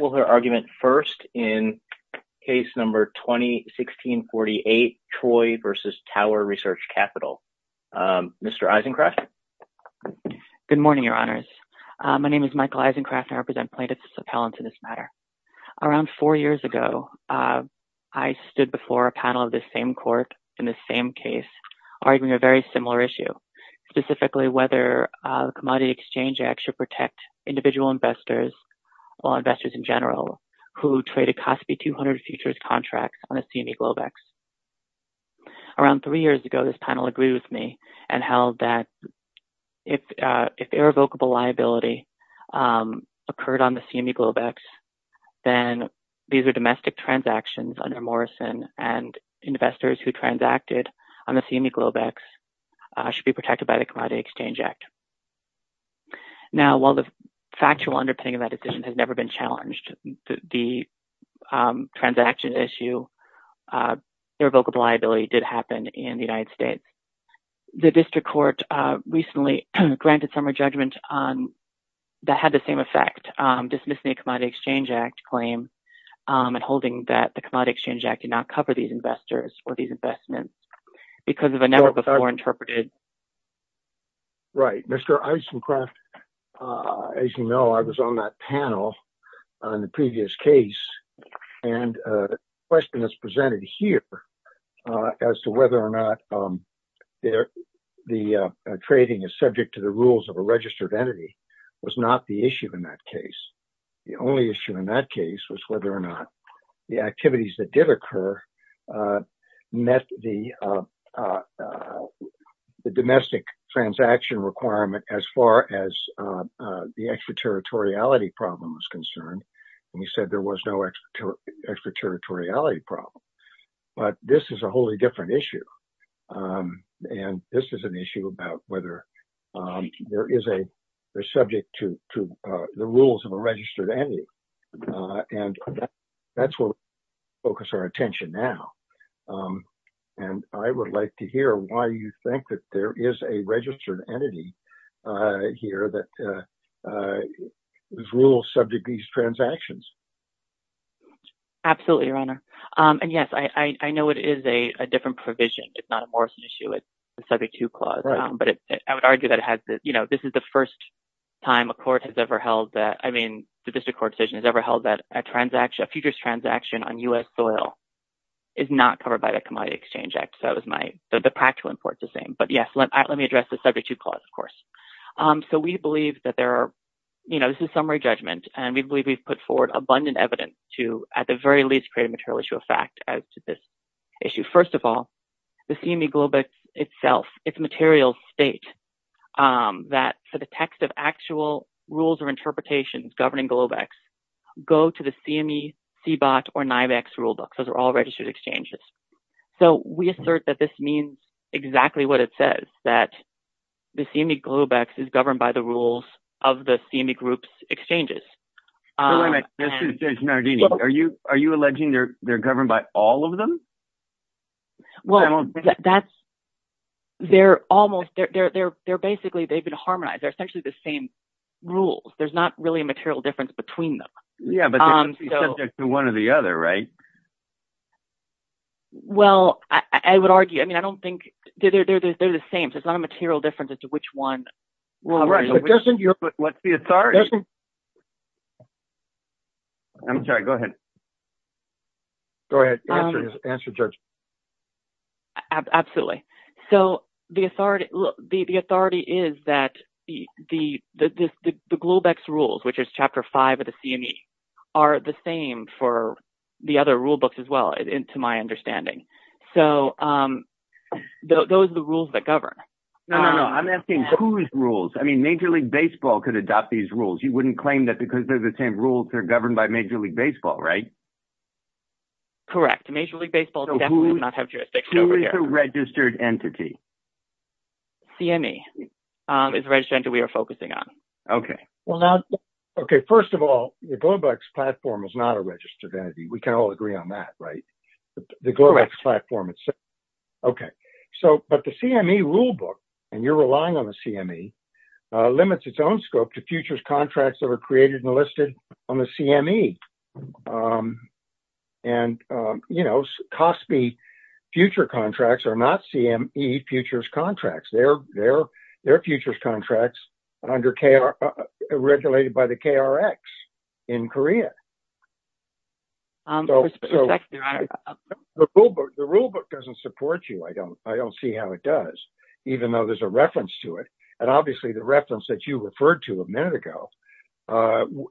Michael Isencraft Good morning, your honors. My name is Michael Isencraft and I represent plaintiffs as appellants in this matter. Around four years ago, I stood before a panel of this same court in this same case, arguing a very similar issue, specifically whether the Commodity Exchange Act should protect individual investors or investors in general who traded COSB 200 futures contracts on the CME Globex. Around three years ago, this panel agreed with me and held that if irrevocable liability occurred on the CME Globex, then these are domestic transactions under Morrison and investors who transacted on the CME Globex should be protected by the Commodity Exchange Act. Now, while the factual underpinning of that decision has never been challenged, the transaction issue, irrevocable liability did happen in the United States. The district court recently granted summary judgment that had the same effect, dismissing the Commodity Exchange Act claim and holding that the Commodity Exchange Act did not cover these investors or these investments because of a never-before-interpreted claim. Right. Mr. Eisencraft, as you know, I was on that panel on the previous case, and the question that's presented here as to whether or not the trading is subject to the rules of a registered entity was not the issue in that case. The only issue in that case was whether or not the activities that did occur met the domestic transaction requirement as far as the extraterritoriality problem was concerned. And you said there was no extraterritoriality problem. But this is a wholly different issue. And this is an issue about whether there is a subject to the rules of a registered entity. And that's where we focus our attention now. And I would like to hear why you think that there is a registered entity here that rules subject to these transactions. Absolutely, Your Honor. And yes, I know it is a different provision. It's not a Morrison issue. It's a subject to clause. But I would argue that this is the first time a court has ever held that. I mean, the district court decision has ever held that a futures transaction on U.S. soil is not covered by the Commodity Exchange Act. So the practical importance is the same. But yes, let me address the subject to clause, of course. So we believe that there are, you know, this is summary judgment, and we believe we've put forward abundant evidence to, at the very least, create a material issue of fact as to this issue. First of all, the CME Globex itself, its materials state that for the text of actual rules or interpretations governing Globex, go to the CME, CBOT, or NIVEX rulebook. Those are all registered exchanges. So we assert that this means exactly what it says, that the CME Globex is governed by the rules of the CME group's exchanges. Wait a minute. This is Judge Nardini. Are you alleging they're governed by all of them? Well, that's, they're almost, they're basically, they've been harmonized. They're essentially the same rules. There's not really a material difference between them. Yeah, but they're subject to one or the other, right? Well, I would argue, I mean, I don't think, they're the same. There's not a material difference as to which one. But what's the authority? I'm sorry, go ahead. Go ahead. Answer, Judge. Absolutely. So the authority is that the Globex rules, which is Chapter 5 of the CME, are the same for the other rulebooks as well, to my understanding. So those are the rules that govern. No, no, no. I'm asking whose rules? I mean, Major League Baseball could adopt these rules. You wouldn't claim that because they're the same rules, they're governed by Major League Baseball, right? Correct. Major League Baseball definitely does not have jurisdiction over here. So who is a registered entity? CME is a registered entity we are focusing on. Okay. Well, now, okay, first of all, the Globex platform is not a registered entity. We can all agree on that, right? Correct. Okay. So, but the CME rulebook, and you're relying on the CME, limits its own scope to futures contracts that are created and listed on the CME. And, you know, COSPI future contracts are not CME futures contracts. They're futures contracts regulated by the KRX in Korea. The rulebook doesn't support you. I don't see how it does, even though there's a reference to it. And obviously the reference that you referred to a minute ago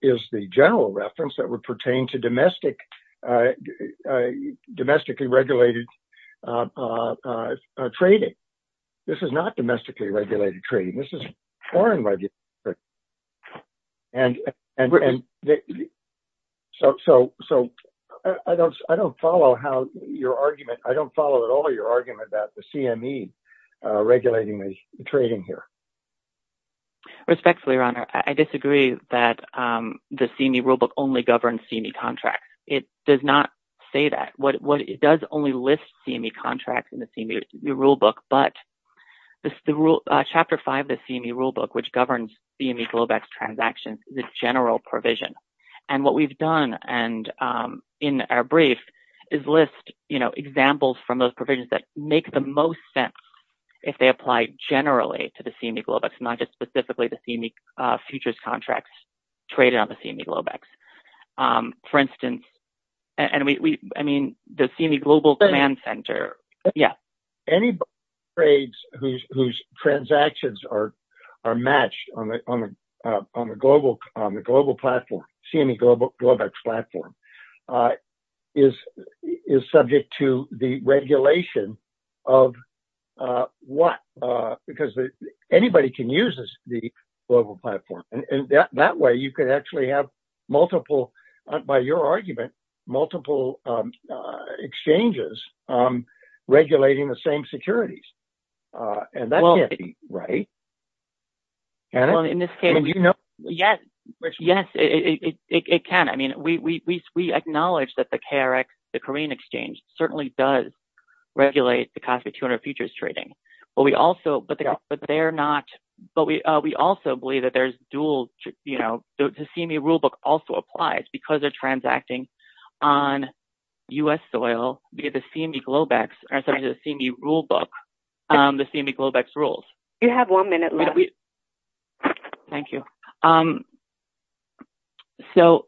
is the general reference that would pertain to domestically regulated trading. This is not domestically regulated trading. This is foreign regulated trading. And so I don't follow how your argument, I don't follow at all your argument that the CME regulating the trading here. Respectfully, Your Honor, I disagree that the CME rulebook only governs CME contracts. It does not say that. It does only list CME contracts in the CME rulebook. But Chapter 5 of the CME rulebook, which governs CME Globex transactions, is a general provision. And what we've done in our brief is list examples from those provisions that make the most sense if they apply generally to the CME Globex, not just specifically the CME futures contracts traded on the CME Globex. For instance, I mean, the CME Global Command Center. Anybody whose transactions are matched on the global platform, CME Globex platform, is subject to the regulation of what? Because anybody can use the global platform, and that way you could actually have multiple, by your argument, multiple exchanges regulating the same securities. And that can't be right, can it? Yes, yes, it can. I mean, we acknowledge that the KRX, the Korean exchange, certainly does regulate the Cosby 200 futures trading. But we also believe that the CME rulebook also applies because they're transacting on U.S. soil via the CME Globex rules. You have one minute left. Thank you. So,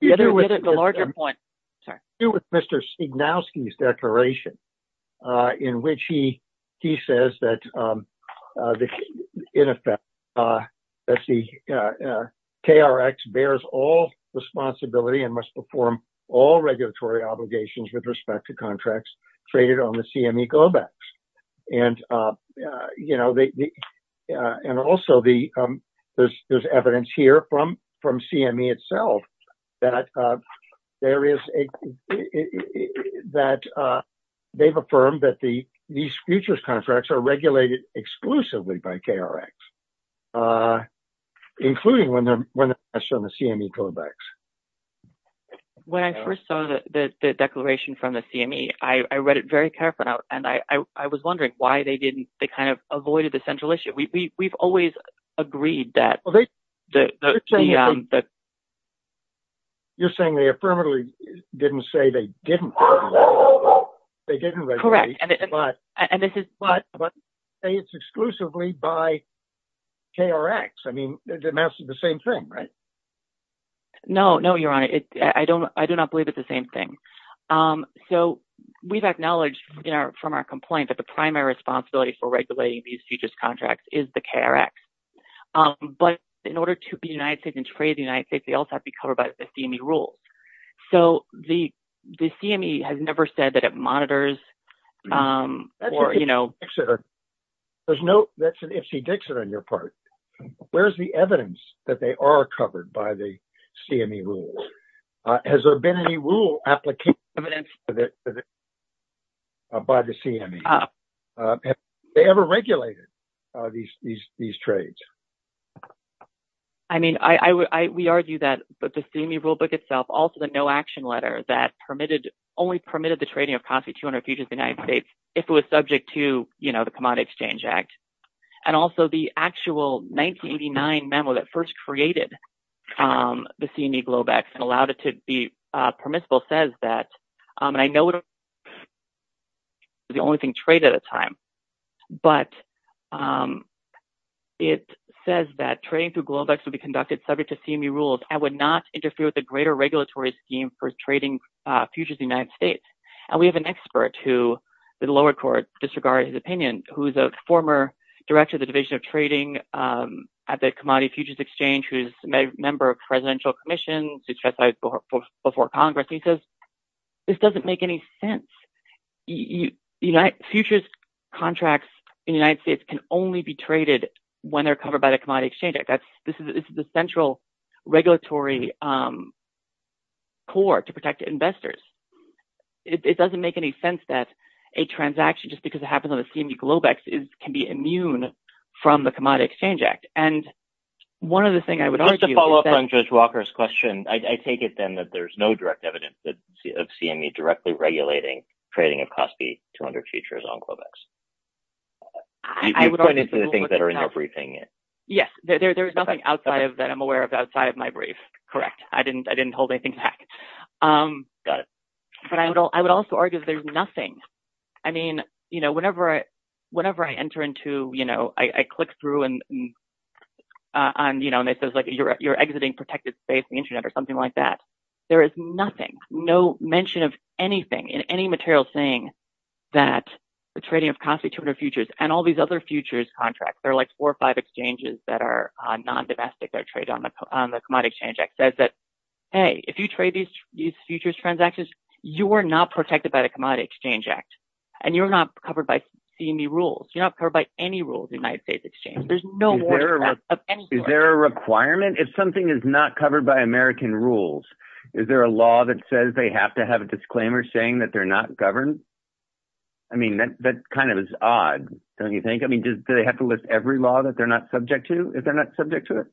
the larger point, sorry. Mr. Stegnowski's declaration in which he says that, in effect, that the KRX bears all responsibility and must perform all regulatory obligations with respect to contracts traded on the CME Globex. And also, there's evidence here from CME itself that they've affirmed that these futures contracts are regulated exclusively by KRX, including when they're matched on the CME Globex. When I first saw the declaration from the CME, I read it very carefully. And I was wondering why they didn't, they kind of avoided the central issue. We've always agreed that. You're saying they affirmatively didn't say they didn't. They didn't regulate. Correct. But say it's exclusively by KRX. I mean, it amounts to the same thing, right? No, no, Your Honor. I do not believe it's the same thing. So, we've acknowledged from our complaint that the primary responsibility for regulating these futures contracts is the KRX. But in order to be United States and trade the United States, they also have to be covered by the CME rules. So, the CME has never said that it monitors or, you know. There's no, that's an ifsy-dixit on your part. Where's the evidence that they are covered by the CME rules? Has there been any rule application by the CME? Have they ever regulated these trades? I mean, we argue that the CME rulebook itself, also the no-action letter that permitted, only permitted the trading of COSB 200 futures in the United States if it was subject to, you know, the Commodity Exchange Act. And also, the actual 1989 memo that first created the CME Globex and allowed it to be permissible says that, and I know it was the only thing traded at the time. But it says that trading through Globex would be conducted subject to CME rules and would not interfere with the greater regulatory scheme for trading futures in the United States. And we have an expert who, the lower court disregarded his opinion, who is a former director of the Division of Trading at the Commodity Futures Exchange, who is a member of the Presidential Commission before Congress. And he says, this doesn't make any sense. Futures contracts in the United States can only be traded when they're covered by the Commodity Exchange Act. This is the central regulatory core to protect investors. It doesn't make any sense that a transaction, just because it happens on the CME Globex, can be immune from the Commodity Exchange Act. Just to follow up on Judge Walker's question, I take it then that there's no direct evidence of CME directly regulating trading of COSB 200 futures on Globex. You've pointed to the things that are in your briefing. Yes, there's nothing outside of that I'm aware of outside of my brief. Correct. I didn't hold anything back. Got it. But I would also argue there's nothing. I mean, you know, whenever I enter into, you know, I click through and, you know, and it says, like, you're exiting protected space, the Internet or something like that. There is nothing, no mention of anything in any material saying that the trading of COSB 200 futures and all these other futures contracts, there are like four or five exchanges that are non-domestic that trade on the Commodity Exchange Act, that says that, hey, if you trade these futures transactions, you are not protected by the Commodity Exchange Act, and you're not covered by CME rules. You're not covered by any rules in the United States exchange. There's no more than that of any sort. Is there a requirement? If something is not covered by American rules, is there a law that says they have to have a disclaimer saying that they're not governed? I mean, that kind of is odd, don't you think? I mean, do they have to list every law that they're not subject to if they're not subject to it?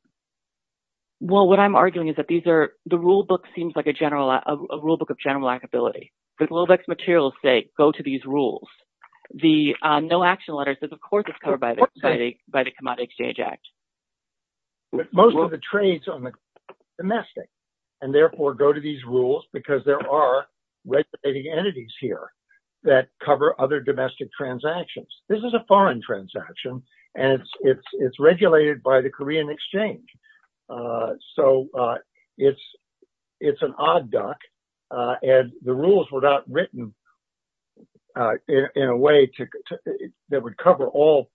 Well, what I'm arguing is that these are, the rule book seems like a general, a rule book of general likability. The GloVex materials say, go to these rules. The no action letter says, of course, it's covered by the Commodity Exchange Act. Most of the trades are domestic and therefore go to these rules because there are regulating entities here that cover other domestic transactions. This is a foreign transaction, and it's regulated by the Korean exchange. So it's an odd duck, and the rules were not written in a way that would cover all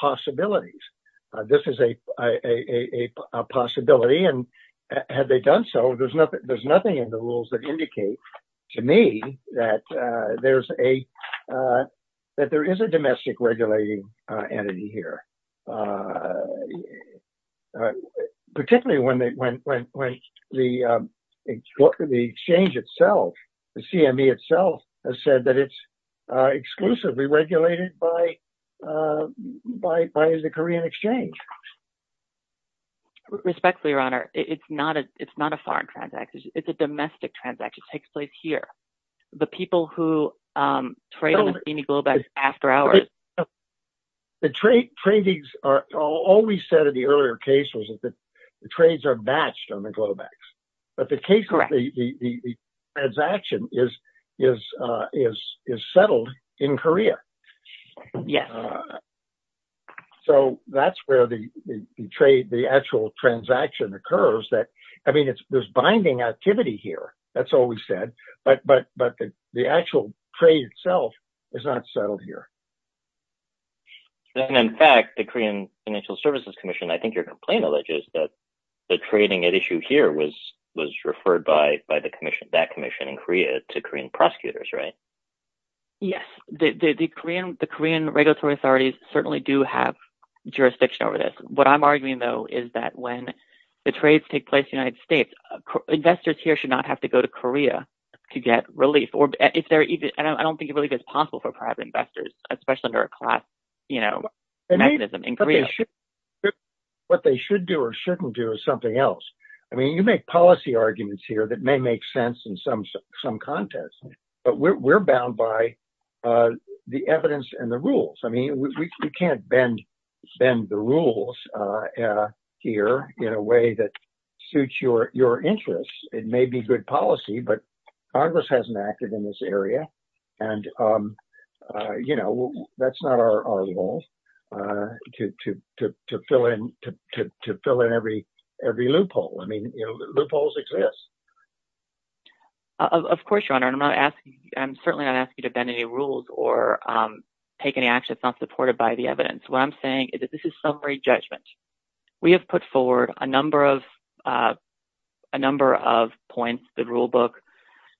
possibilities. This is a possibility, and had they done so, there's nothing in the rules that indicate to me that there is a domestic regulating entity here. Particularly when the exchange itself, the CME itself, has said that it's exclusively regulated by the Korean exchange. Respectfully, Your Honor, it's not a foreign transaction. It's a domestic transaction. It takes place here. The people who trade on the CME GloVex after hours. The trade tradings are, all we said in the earlier case was that the trades are matched on the GloVex. But the case of the transaction is settled in Korea. Yes. So that's where the actual transaction occurs. I mean, there's binding activity here. That's all we said. But the actual trade itself is not settled here. In fact, the Korean Financial Services Commission, I think your complaint alleges that the trading at issue here was referred by that commission in Korea to Korean prosecutors, right? Yes. The Korean regulatory authorities certainly do have jurisdiction over this. What I'm arguing, though, is that when the trades take place in the United States, investors here should not have to go to Korea to get relief. And I don't think relief is possible for private investors, especially under a class mechanism in Korea. What they should do or shouldn't do is something else. I mean, you make policy arguments here that may make sense in some context, but we're bound by the evidence and the rules. I mean, we can't bend the rules here in a way that suits your interests. It may be good policy, but Congress hasn't acted in this area. And, you know, that's not our goal to fill in to fill in every every loophole. I mean, loopholes exist. Of course, your honor, I'm not asking. I'm certainly not asking you to bend any rules or take any action that's not supported by the evidence. What I'm saying is that this is summary judgment. We have put forward a number of a number of points. The rulebook,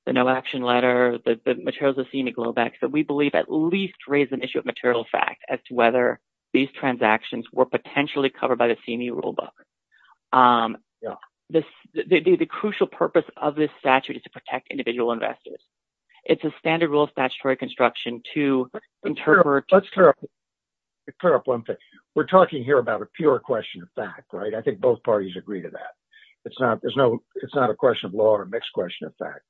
the no action letter, the materials, the scenic glowbacks that we believe at least raise an issue of material fact as to whether these transactions were potentially covered by the senior rulebook. The crucial purpose of this statute is to protect individual investors. It's a standard rule of statutory construction to interpret. Let's clear up. We're talking here about a pure question of fact. Right. I think both parties agree to that. It's not there's no it's not a question of law or a mixed question of fact.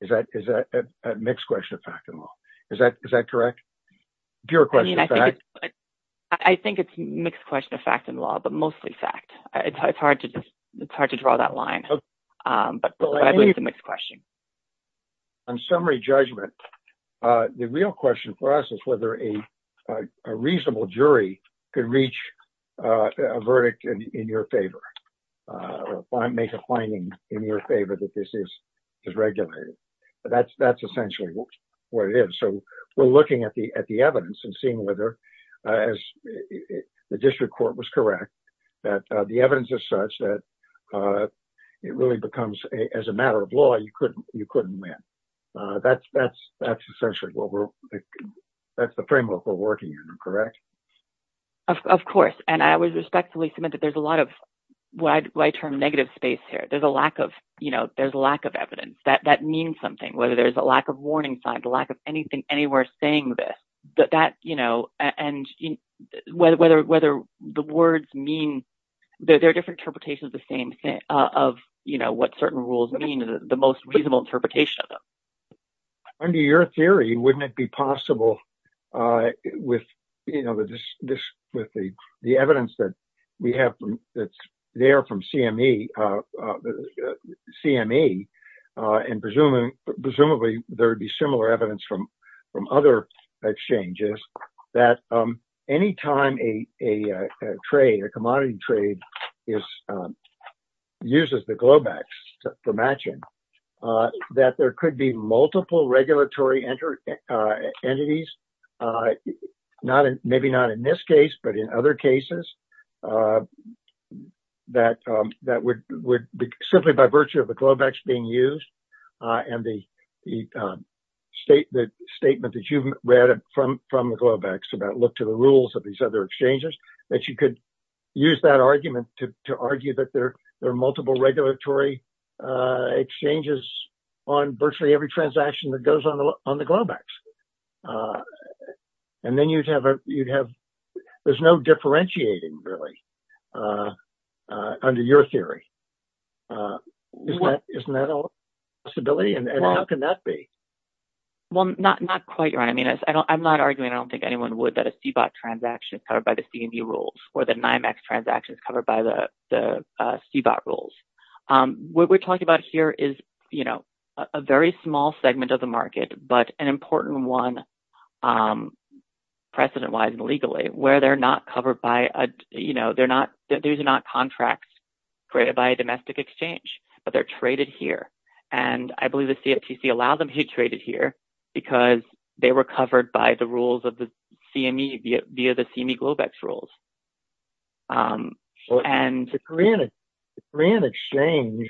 Is that is that a mixed question of fact and law? Is that is that correct? Pure question. I think it's a mixed question of fact and law, but mostly fact. It's hard to it's hard to draw that line. But I believe the mixed question. On summary judgment, the real question for us is whether a reasonable jury can reach a verdict in your favor or make a finding in your favor that this is is regulated. That's that's essentially what it is. So we're looking at the at the evidence and seeing whether as the district court was correct, that the evidence is such that it really becomes as a matter of law. You couldn't you couldn't win. That's that's that's essentially what we're. That's the framework we're working in. Correct. Of course. And I would respectfully submit that there's a lot of wide wide term negative space here. There's a lack of you know, there's a lack of evidence that that means something, whether there's a lack of warning signs, the lack of anything anywhere saying that that, you know, and whether whether whether the words mean that there are different interpretations of the same thing, of, you know, what certain rules mean, the most reasonable interpretation of them. Under your theory, wouldn't it be possible with, you know, this with the the evidence that we have that's there from CME, CME and presumably presumably there would be similar evidence from from other exchanges that any time a a trade, a commodity trade is used as the glowbacks for matching, that there could be multiple regulatory entities. Not maybe not in this case, but in other cases that that would would simply by virtue of the glowbacks being used and the state, the statement that you've read from from the glowbacks about look to the rules of these other exchanges, that you could use that argument to argue that there are multiple regulatory exchanges on virtually every transaction that goes on on the glowbacks. And then you'd have you'd have there's no differentiating, really, under your theory. Isn't that a possibility? And how can that be? Well, not not quite right. I mean, I don't I'm not arguing. I don't think anyone would that a CBOT transaction is covered by the CME rules or the NYMEX transactions covered by the CBOT rules. What we're talking about here is, you know, a very small segment of the market, but an important one precedent wise and legally where they're not covered by a you know, they're not they're not contracts created by a domestic exchange, but they're traded here. And I believe the CFTC allow them to be traded here because they were covered by the rules of the CME via the CME glowbacks rules. And the Korean exchange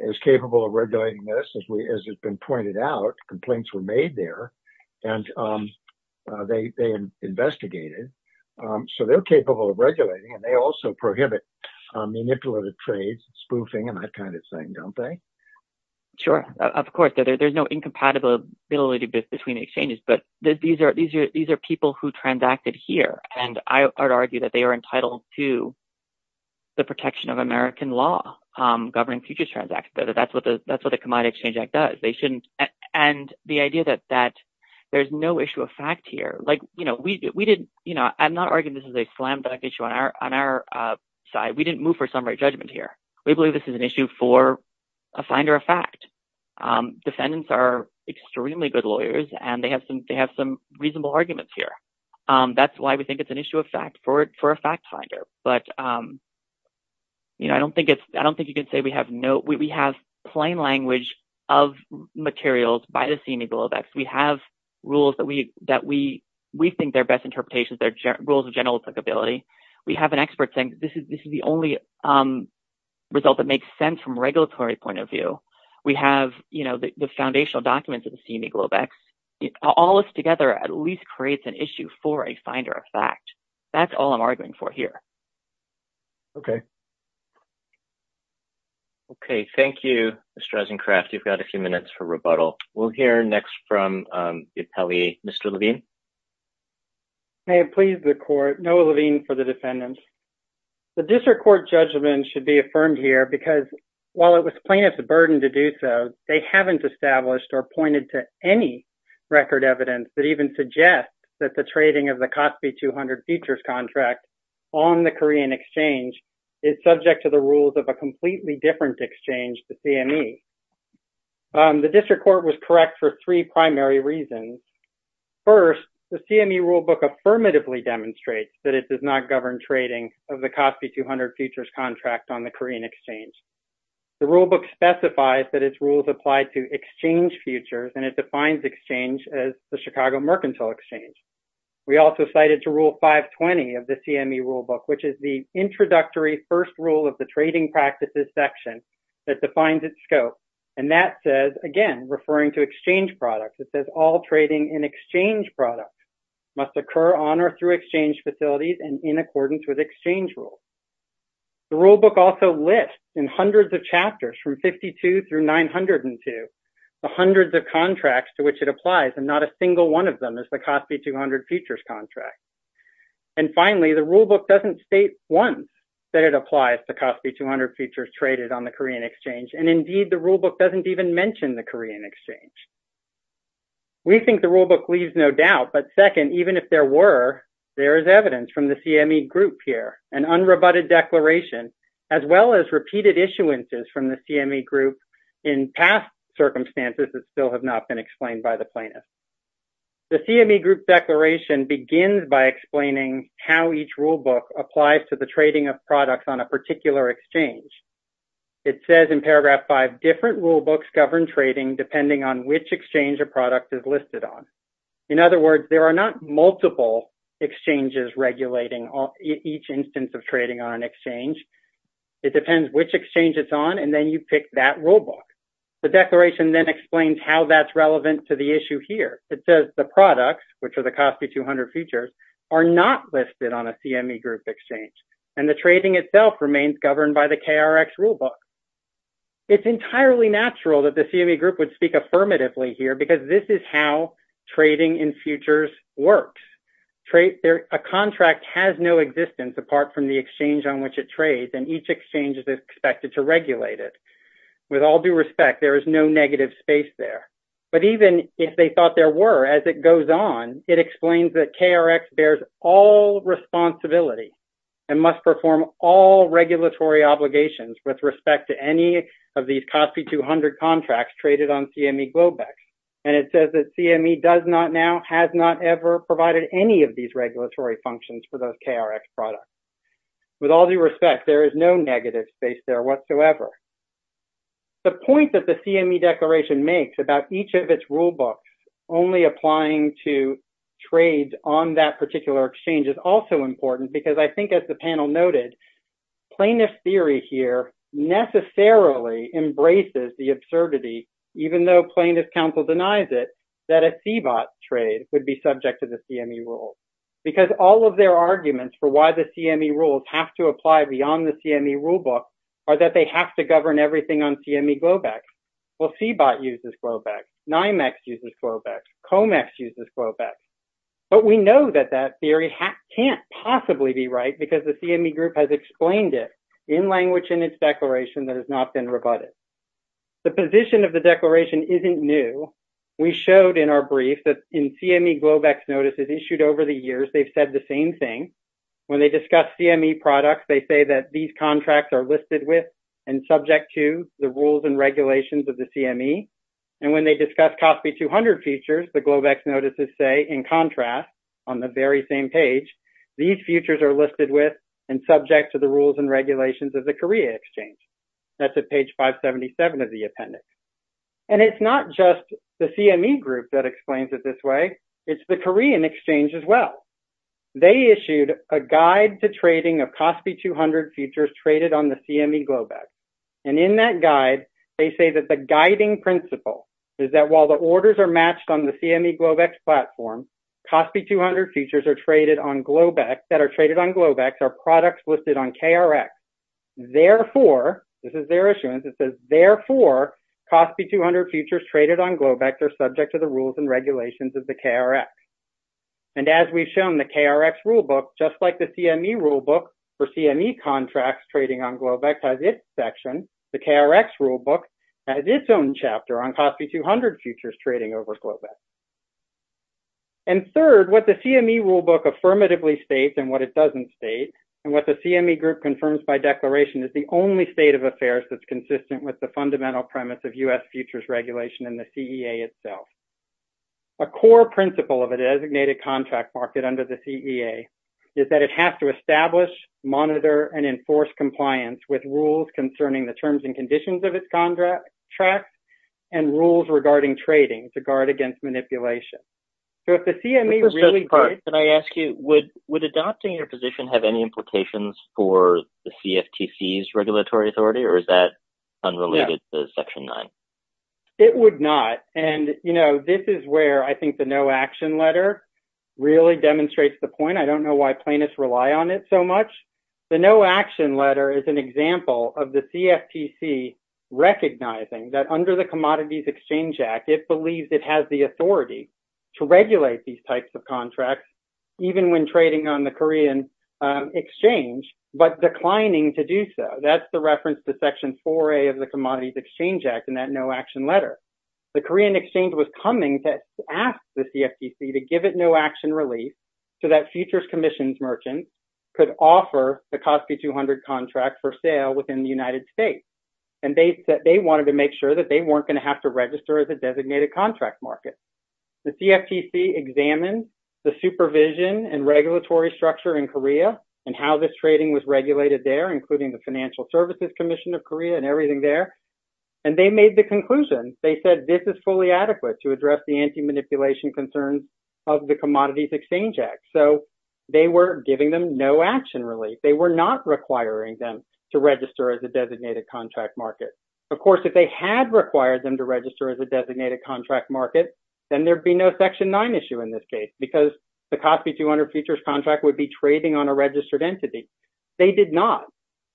is capable of regulating this, as we as it's been pointed out. Complaints were made there and they investigated. So they're capable of regulating and they also prohibit manipulative trades, spoofing and that kind of thing, don't they? Sure. Of course, there's no incompatibility between exchanges. But these are these are these are people who transacted here. And I argue that they are entitled to the protection of American law governing futures transactions. That's what the that's what the Commodity Exchange Act does. They shouldn't. And the idea that that there's no issue of fact here, like, you know, we did. You know, I'm not arguing this is a slam dunk issue on our on our side. We didn't move for some right judgment here. We believe this is an issue for a finder of fact. Defendants are extremely good lawyers and they have some they have some reasonable arguments here. That's why we think it's an issue of fact for it for a fact finder. But, you know, I don't think it's I don't think you can say we have no we have plain language of materials by the CME glowbacks. We have rules that we that we we think their best interpretations, their rules of general applicability. We have an expert saying this is this is the only result that makes sense from regulatory point of view. We have, you know, the foundational documents of the CME glowbacks. All this together at least creates an issue for a finder of fact. That's all I'm arguing for here. OK. OK. Thank you, Mr. Eisencraft. You've got a few minutes for rebuttal. We'll hear next from the appellee, Mr. Levine. May it please the court. Noah Levine for the defendants. The district court judgment should be affirmed here because while it was plaintiff's burden to do so, they haven't established or pointed to any record evidence that even suggests that the trading of the COSPI 200 futures contract on the Korean exchange is subject to the rules of a completely different exchange to CME. The district court was correct for three primary reasons. First, the CME rulebook affirmatively demonstrates that it does not govern trading of the COSPI 200 futures contract on the Korean exchange. The rulebook specifies that its rules apply to exchange futures and it defines exchange as the Chicago Mercantile Exchange. We also cited to rule 520 of the CME rulebook, which is the introductory first rule of the trading practices section that defines its scope. And that says, again, referring to exchange products, it says all trading in exchange products must occur on or through exchange facilities and in accordance with exchange rules. The rulebook also lists in hundreds of chapters from 52 through 902 the hundreds of contracts to which it applies and not a single one of them is the COSPI 200 futures contract. And finally, the rulebook doesn't state once that it applies to COSPI 200 futures traded on the Korean exchange. And indeed, the rulebook doesn't even mention the Korean exchange. We think the rulebook leaves no doubt. But second, even if there were, there is evidence from the CME group here, an unrebutted declaration, as well as repeated issuances from the CME group in past circumstances that still have not been explained by the plaintiffs. The CME group declaration begins by explaining how each rulebook applies to the trading of products on a particular exchange. It says in paragraph five, different rulebooks govern trading depending on which exchange a product is listed on. In other words, there are not multiple exchanges regulating each instance of trading on an exchange. It depends which exchange it's on, and then you pick that rulebook. The declaration then explains how that's relevant to the issue here. It says the products, which are the COSPI 200 futures, are not listed on a CME group exchange. And the trading itself remains governed by the KRX rulebook. It's entirely natural that the CME group would speak affirmatively here because this is how trading in futures works. A contract has no existence apart from the exchange on which it trades, and each exchange is expected to regulate it. With all due respect, there is no negative space there. But even if they thought there were as it goes on, it explains that KRX bears all responsibility. It must perform all regulatory obligations with respect to any of these COSPI 200 contracts traded on CME Globex. And it says that CME does not now, has not ever provided any of these regulatory functions for those KRX products. With all due respect, there is no negative space there whatsoever. The point that the CME declaration makes about each of its rulebooks only applying to trade on that particular exchange is also important. Because I think, as the panel noted, plaintiff's theory here necessarily embraces the absurdity, even though plaintiff's counsel denies it, that a CBOT trade would be subject to the CME rules. Because all of their arguments for why the CME rules have to apply beyond the CME rulebook are that they have to govern everything on CME Globex. Well, CBOT uses Globex, NYMEX uses Globex, COMEX uses Globex. But we know that that theory can't possibly be right because the CME group has explained it in language in its declaration that has not been rebutted. The position of the declaration isn't new. We showed in our brief that in CME Globex notices issued over the years, they've said the same thing. When they discuss CME products, they say that these contracts are listed with and subject to the rules and regulations of the CME. And when they discuss COSPI 200 features, the Globex notices say, in contrast, on the very same page, these features are listed with and subject to the rules and regulations of the Korea Exchange. That's at page 577 of the appendix. And it's not just the CME group that explains it this way. It's the Korean Exchange as well. They issued a guide to trading of COSPI 200 features traded on the CME Globex. And in that guide, they say that the guiding principle is that while the orders are matched on the CME Globex platform, COSPI 200 features that are traded on Globex are products listed on KRX. Therefore, this is their issuance. It says, therefore, COSPI 200 features traded on Globex are subject to the rules and regulations of the KRX. And as we've shown, the KRX rulebook, just like the CME rulebook for CME contracts trading on Globex has its section, the KRX rulebook has its own chapter on COSPI 200 features trading over Globex. And third, what the CME rulebook affirmatively states and what it doesn't state, and what the CME group confirms by declaration, is the only state of affairs that's consistent with the fundamental premise of U.S. futures regulation and the CEA itself. A core principle of a designated contract market under the CEA is that it has to establish, monitor, and enforce compliance with rules concerning the terms and conditions of its contracts and rules regarding trading to guard against manipulation. So, if the CME really did, I ask you, would adopting your position have any implications for the CFTC's regulatory authority, or is that unrelated to Section 9? It would not. And, you know, this is where I think the no action letter really demonstrates the point. I don't know why plaintiffs rely on it so much. The no action letter is an example of the CFTC recognizing that under the Commodities Exchange Act, it believes it has the authority to regulate these types of contracts, even when trading on the Korean exchange, but declining to do so. That's the reference to Section 4A of the Commodities Exchange Act in that no action letter. The Korean exchange was coming to ask the CFTC to give it no action release so that futures commissions merchants could offer the COSPI 200 contract for sale within the United States. And they wanted to make sure that they weren't going to have to register as a designated contract market. The CFTC examined the supervision and regulatory structure in Korea and how this trading was regulated there, including the Financial Services Commission of Korea and everything there, and they made the conclusion. They said this is fully adequate to address the anti-manipulation concerns of the Commodities Exchange Act. So, they were giving them no action release. They were not requiring them to register as a designated contract market. Of course, if they had required them to register as a designated contract market, then there'd be no Section 9 issue in this case because the COSPI 200 futures contract would be trading on a registered entity. They did not.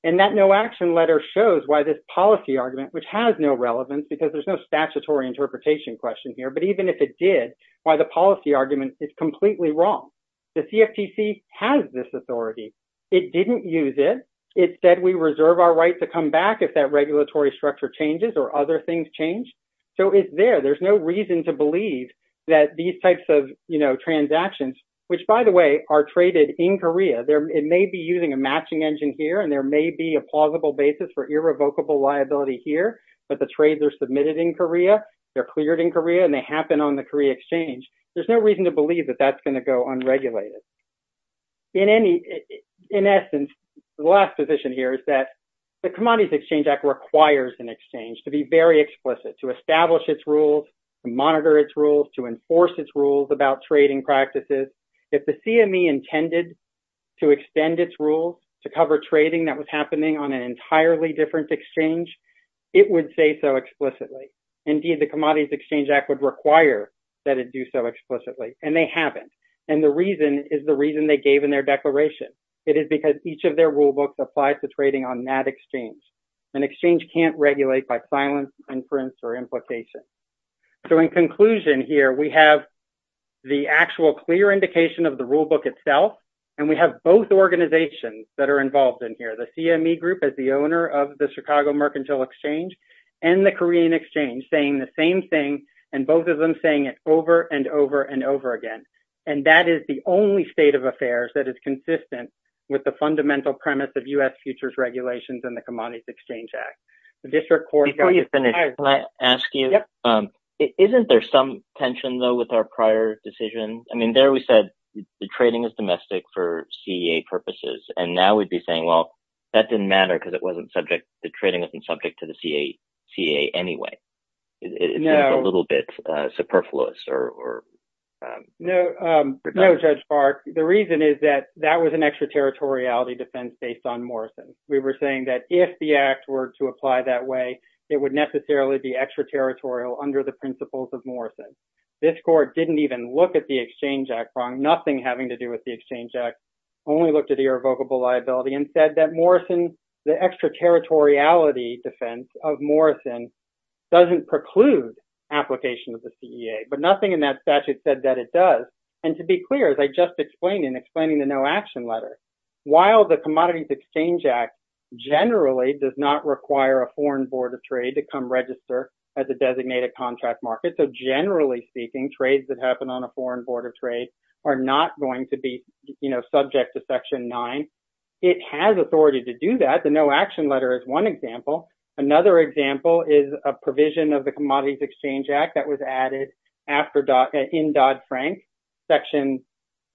And that no action letter shows why this policy argument, which has no relevance because there's no statutory interpretation question here, but even if it did, why the policy argument is completely wrong. The CFTC has this authority. It didn't use it. It said we reserve our right to come back if that regulatory structure changes or other things change. So, it's there. There's no reason to believe that these types of transactions, which, by the way, are traded in Korea. It may be using a matching engine here, and there may be a plausible basis for irrevocable liability here, but the trades are submitted in Korea. They're cleared in Korea, and they happen on the Korea Exchange. There's no reason to believe that that's going to go unregulated. In essence, the last position here is that the Commodities Exchange Act requires an exchange to be very explicit, to establish its rules, to monitor its rules, to enforce its rules about trading practices. If the CME intended to extend its rules to cover trading that was happening on an entirely different exchange, it would say so explicitly. Indeed, the Commodities Exchange Act would require that it do so explicitly, and they haven't. And the reason is the reason they gave in their declaration. It is because each of their rulebooks applies to trading on that exchange. An exchange can't regulate by silence, inference, or implication. So, in conclusion here, we have the actual clear indication of the rulebook itself, and we have both organizations that are involved in here, the CME Group as the owner of the Chicago Mercantile Exchange and the Korean Exchange saying the same thing, and both of them saying it over and over and over again. And that is the only state of affairs that is consistent with the fundamental premise of U.S. futures regulations and the Commodities Exchange Act. Before you finish, can I ask you, isn't there some tension, though, with our prior decision? I mean, there we said the trading is domestic for CEA purposes. And now we'd be saying, well, that didn't matter because the trading wasn't subject to the CEA anyway. It's a little bit superfluous. No, Judge Bark. The reason is that that was an extraterritoriality defense based on Morrison. We were saying that if the act were to apply that way, it would necessarily be extraterritorial under the principles of Morrison. This court didn't even look at the Exchange Act wrong, nothing having to do with the Exchange Act, only looked at irrevocable liability and said that Morrison, the extraterritoriality defense of Morrison doesn't preclude application of the CEA. But nothing in that statute said that it does. And to be clear, as I just explained in explaining the no action letter, while the Commodities Exchange Act generally does not require a foreign board of trade to come register as a designated contract market. So generally speaking, trades that happen on a foreign board of trade are not going to be subject to Section 9. It has authority to do that. The no action letter is one example. Another example is a provision of the Commodities Exchange Act that was added in Dodd-Frank, Section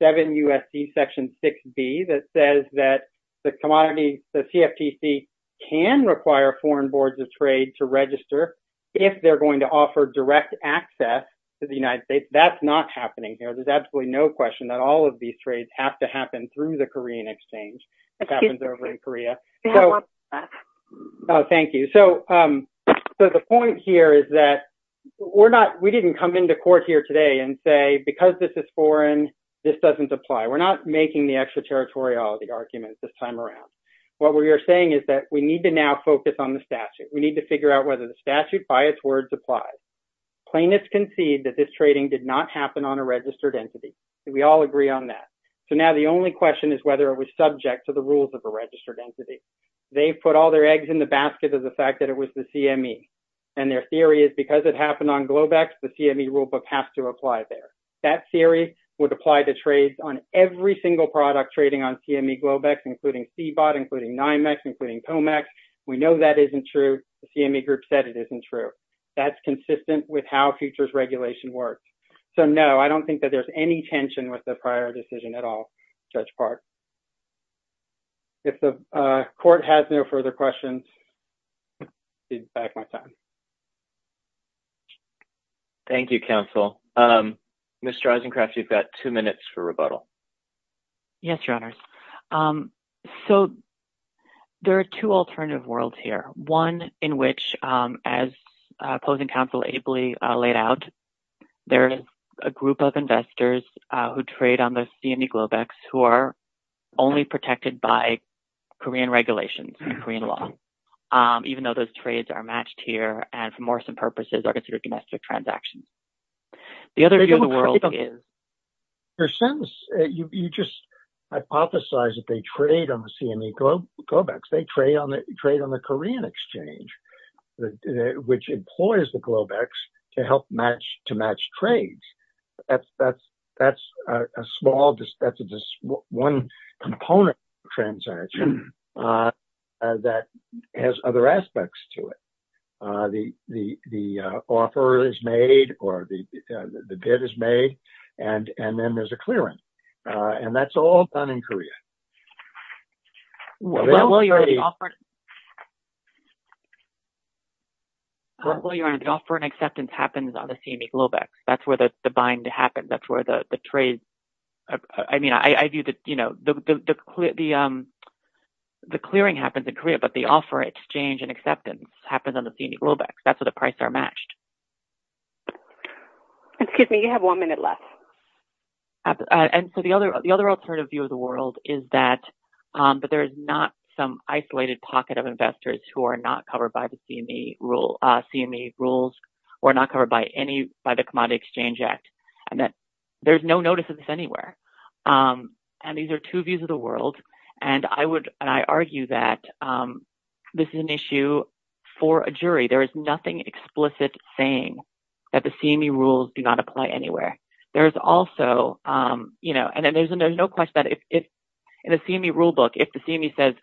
7 U.S.C. Section 6B that says that the CFTC can require foreign boards of trade to register if they're going to offer direct access to the United States. That's not happening here. There's absolutely no question that all of these trades have to happen through the Korean exchange. Thank you. So the point here is that we're not we didn't come into court here today and say because this is foreign, this doesn't apply. We're not making the extraterritoriality arguments this time around. What we are saying is that we need to now focus on the statute. We need to figure out whether the statute by its words applies. Plaintiffs concede that this trading did not happen on a registered entity. We all agree on that. So now the only question is whether it was subject to the rules of a registered entity. They put all their eggs in the basket of the fact that it was the CME. And their theory is because it happened on Globex, the CME rulebook has to apply there. That theory would apply to trades on every single product trading on CME Globex, including CBOT, including NYMEX, including COMEX. We know that isn't true. The CME group said it isn't true. That's consistent with how futures regulation works. So, no, I don't think that there's any tension with the prior decision at all, Judge Park. If the court has no further questions. Thank you, counsel. Mr. Eisencraft, you've got two minutes for rebuttal. Yes, your honors. So there are two alternative worlds here. One in which, as opposing counsel Abley laid out, there is a group of investors who trade on the CME Globex who are only protected by Korean regulations and Korean law, even though those trades are matched here and for more some purposes are considered domestic transactions. You just hypothesize that they trade on the CME Globex. They trade on the trade on the Korean exchange, which employs the Globex to help match to match trades. That's that's that's a small one component transaction that has other aspects to it. The offer is made or the bid is made and and then there's a clearance. And that's all done in Korea. Well, your honor, the offer and acceptance happens on the CME Globex. That's where the bind happens. That's where the trade. I mean, I view that, you know, the clearing happens in Korea, but the offer exchange and acceptance happens on the CME Globex. That's what the price are matched. Excuse me, you have one minute left. And so the other the other alternative view of the world is that. But there is not some isolated pocket of investors who are not covered by the CME rule CME rules or not covered by any by the Commodity Exchange Act. And that there's no notice of this anywhere. And these are two views of the world. And I would I argue that this is an issue for a jury. There is nothing explicit saying that the CME rules do not apply anywhere. There is also, you know, and then there's a there's no question that if it's in a CME rulebook, if the CME says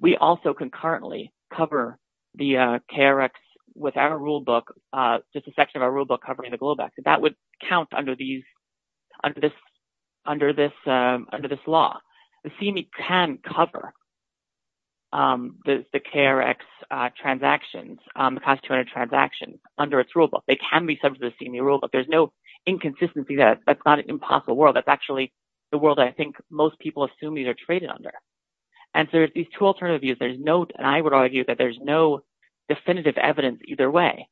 we also concurrently cover the KRX with our rulebook, just a section of our rulebook covering the Globex. That would count under these under this under this under this law. The CME can cover. The KRX transactions cost 200 transactions under its rulebook, they can be subject to the CME rulebook. There's no inconsistency that that's not an impossible world. That's actually the world. I think most people assume these are traded under. And there are these two alternative views. There's no and I would argue that there's no definitive evidence either way.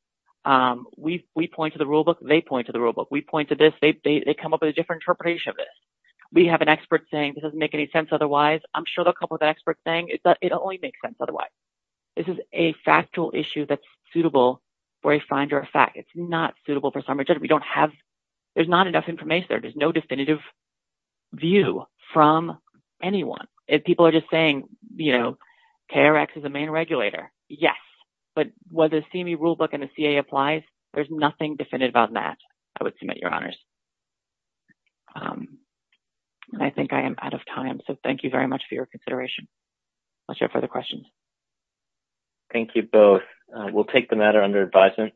We we point to the rulebook. They point to the rulebook. We point to this. They come up with a different interpretation of this. We have an expert saying this doesn't make any sense. Otherwise, I'm sure a couple of experts saying it only makes sense. Otherwise, this is a factual issue that's suitable for a finder fact. It's not suitable for some. We don't have there's not enough information. There is no definitive view from anyone. If people are just saying, you know, KRX is the main regulator. Yes. But whether the CME rulebook and the CA applies, there's nothing definitive on that. I would submit your honors. And I think I am out of time. So thank you very much for your consideration. I'll share further questions. Thank you both. We'll take the matter under advisement.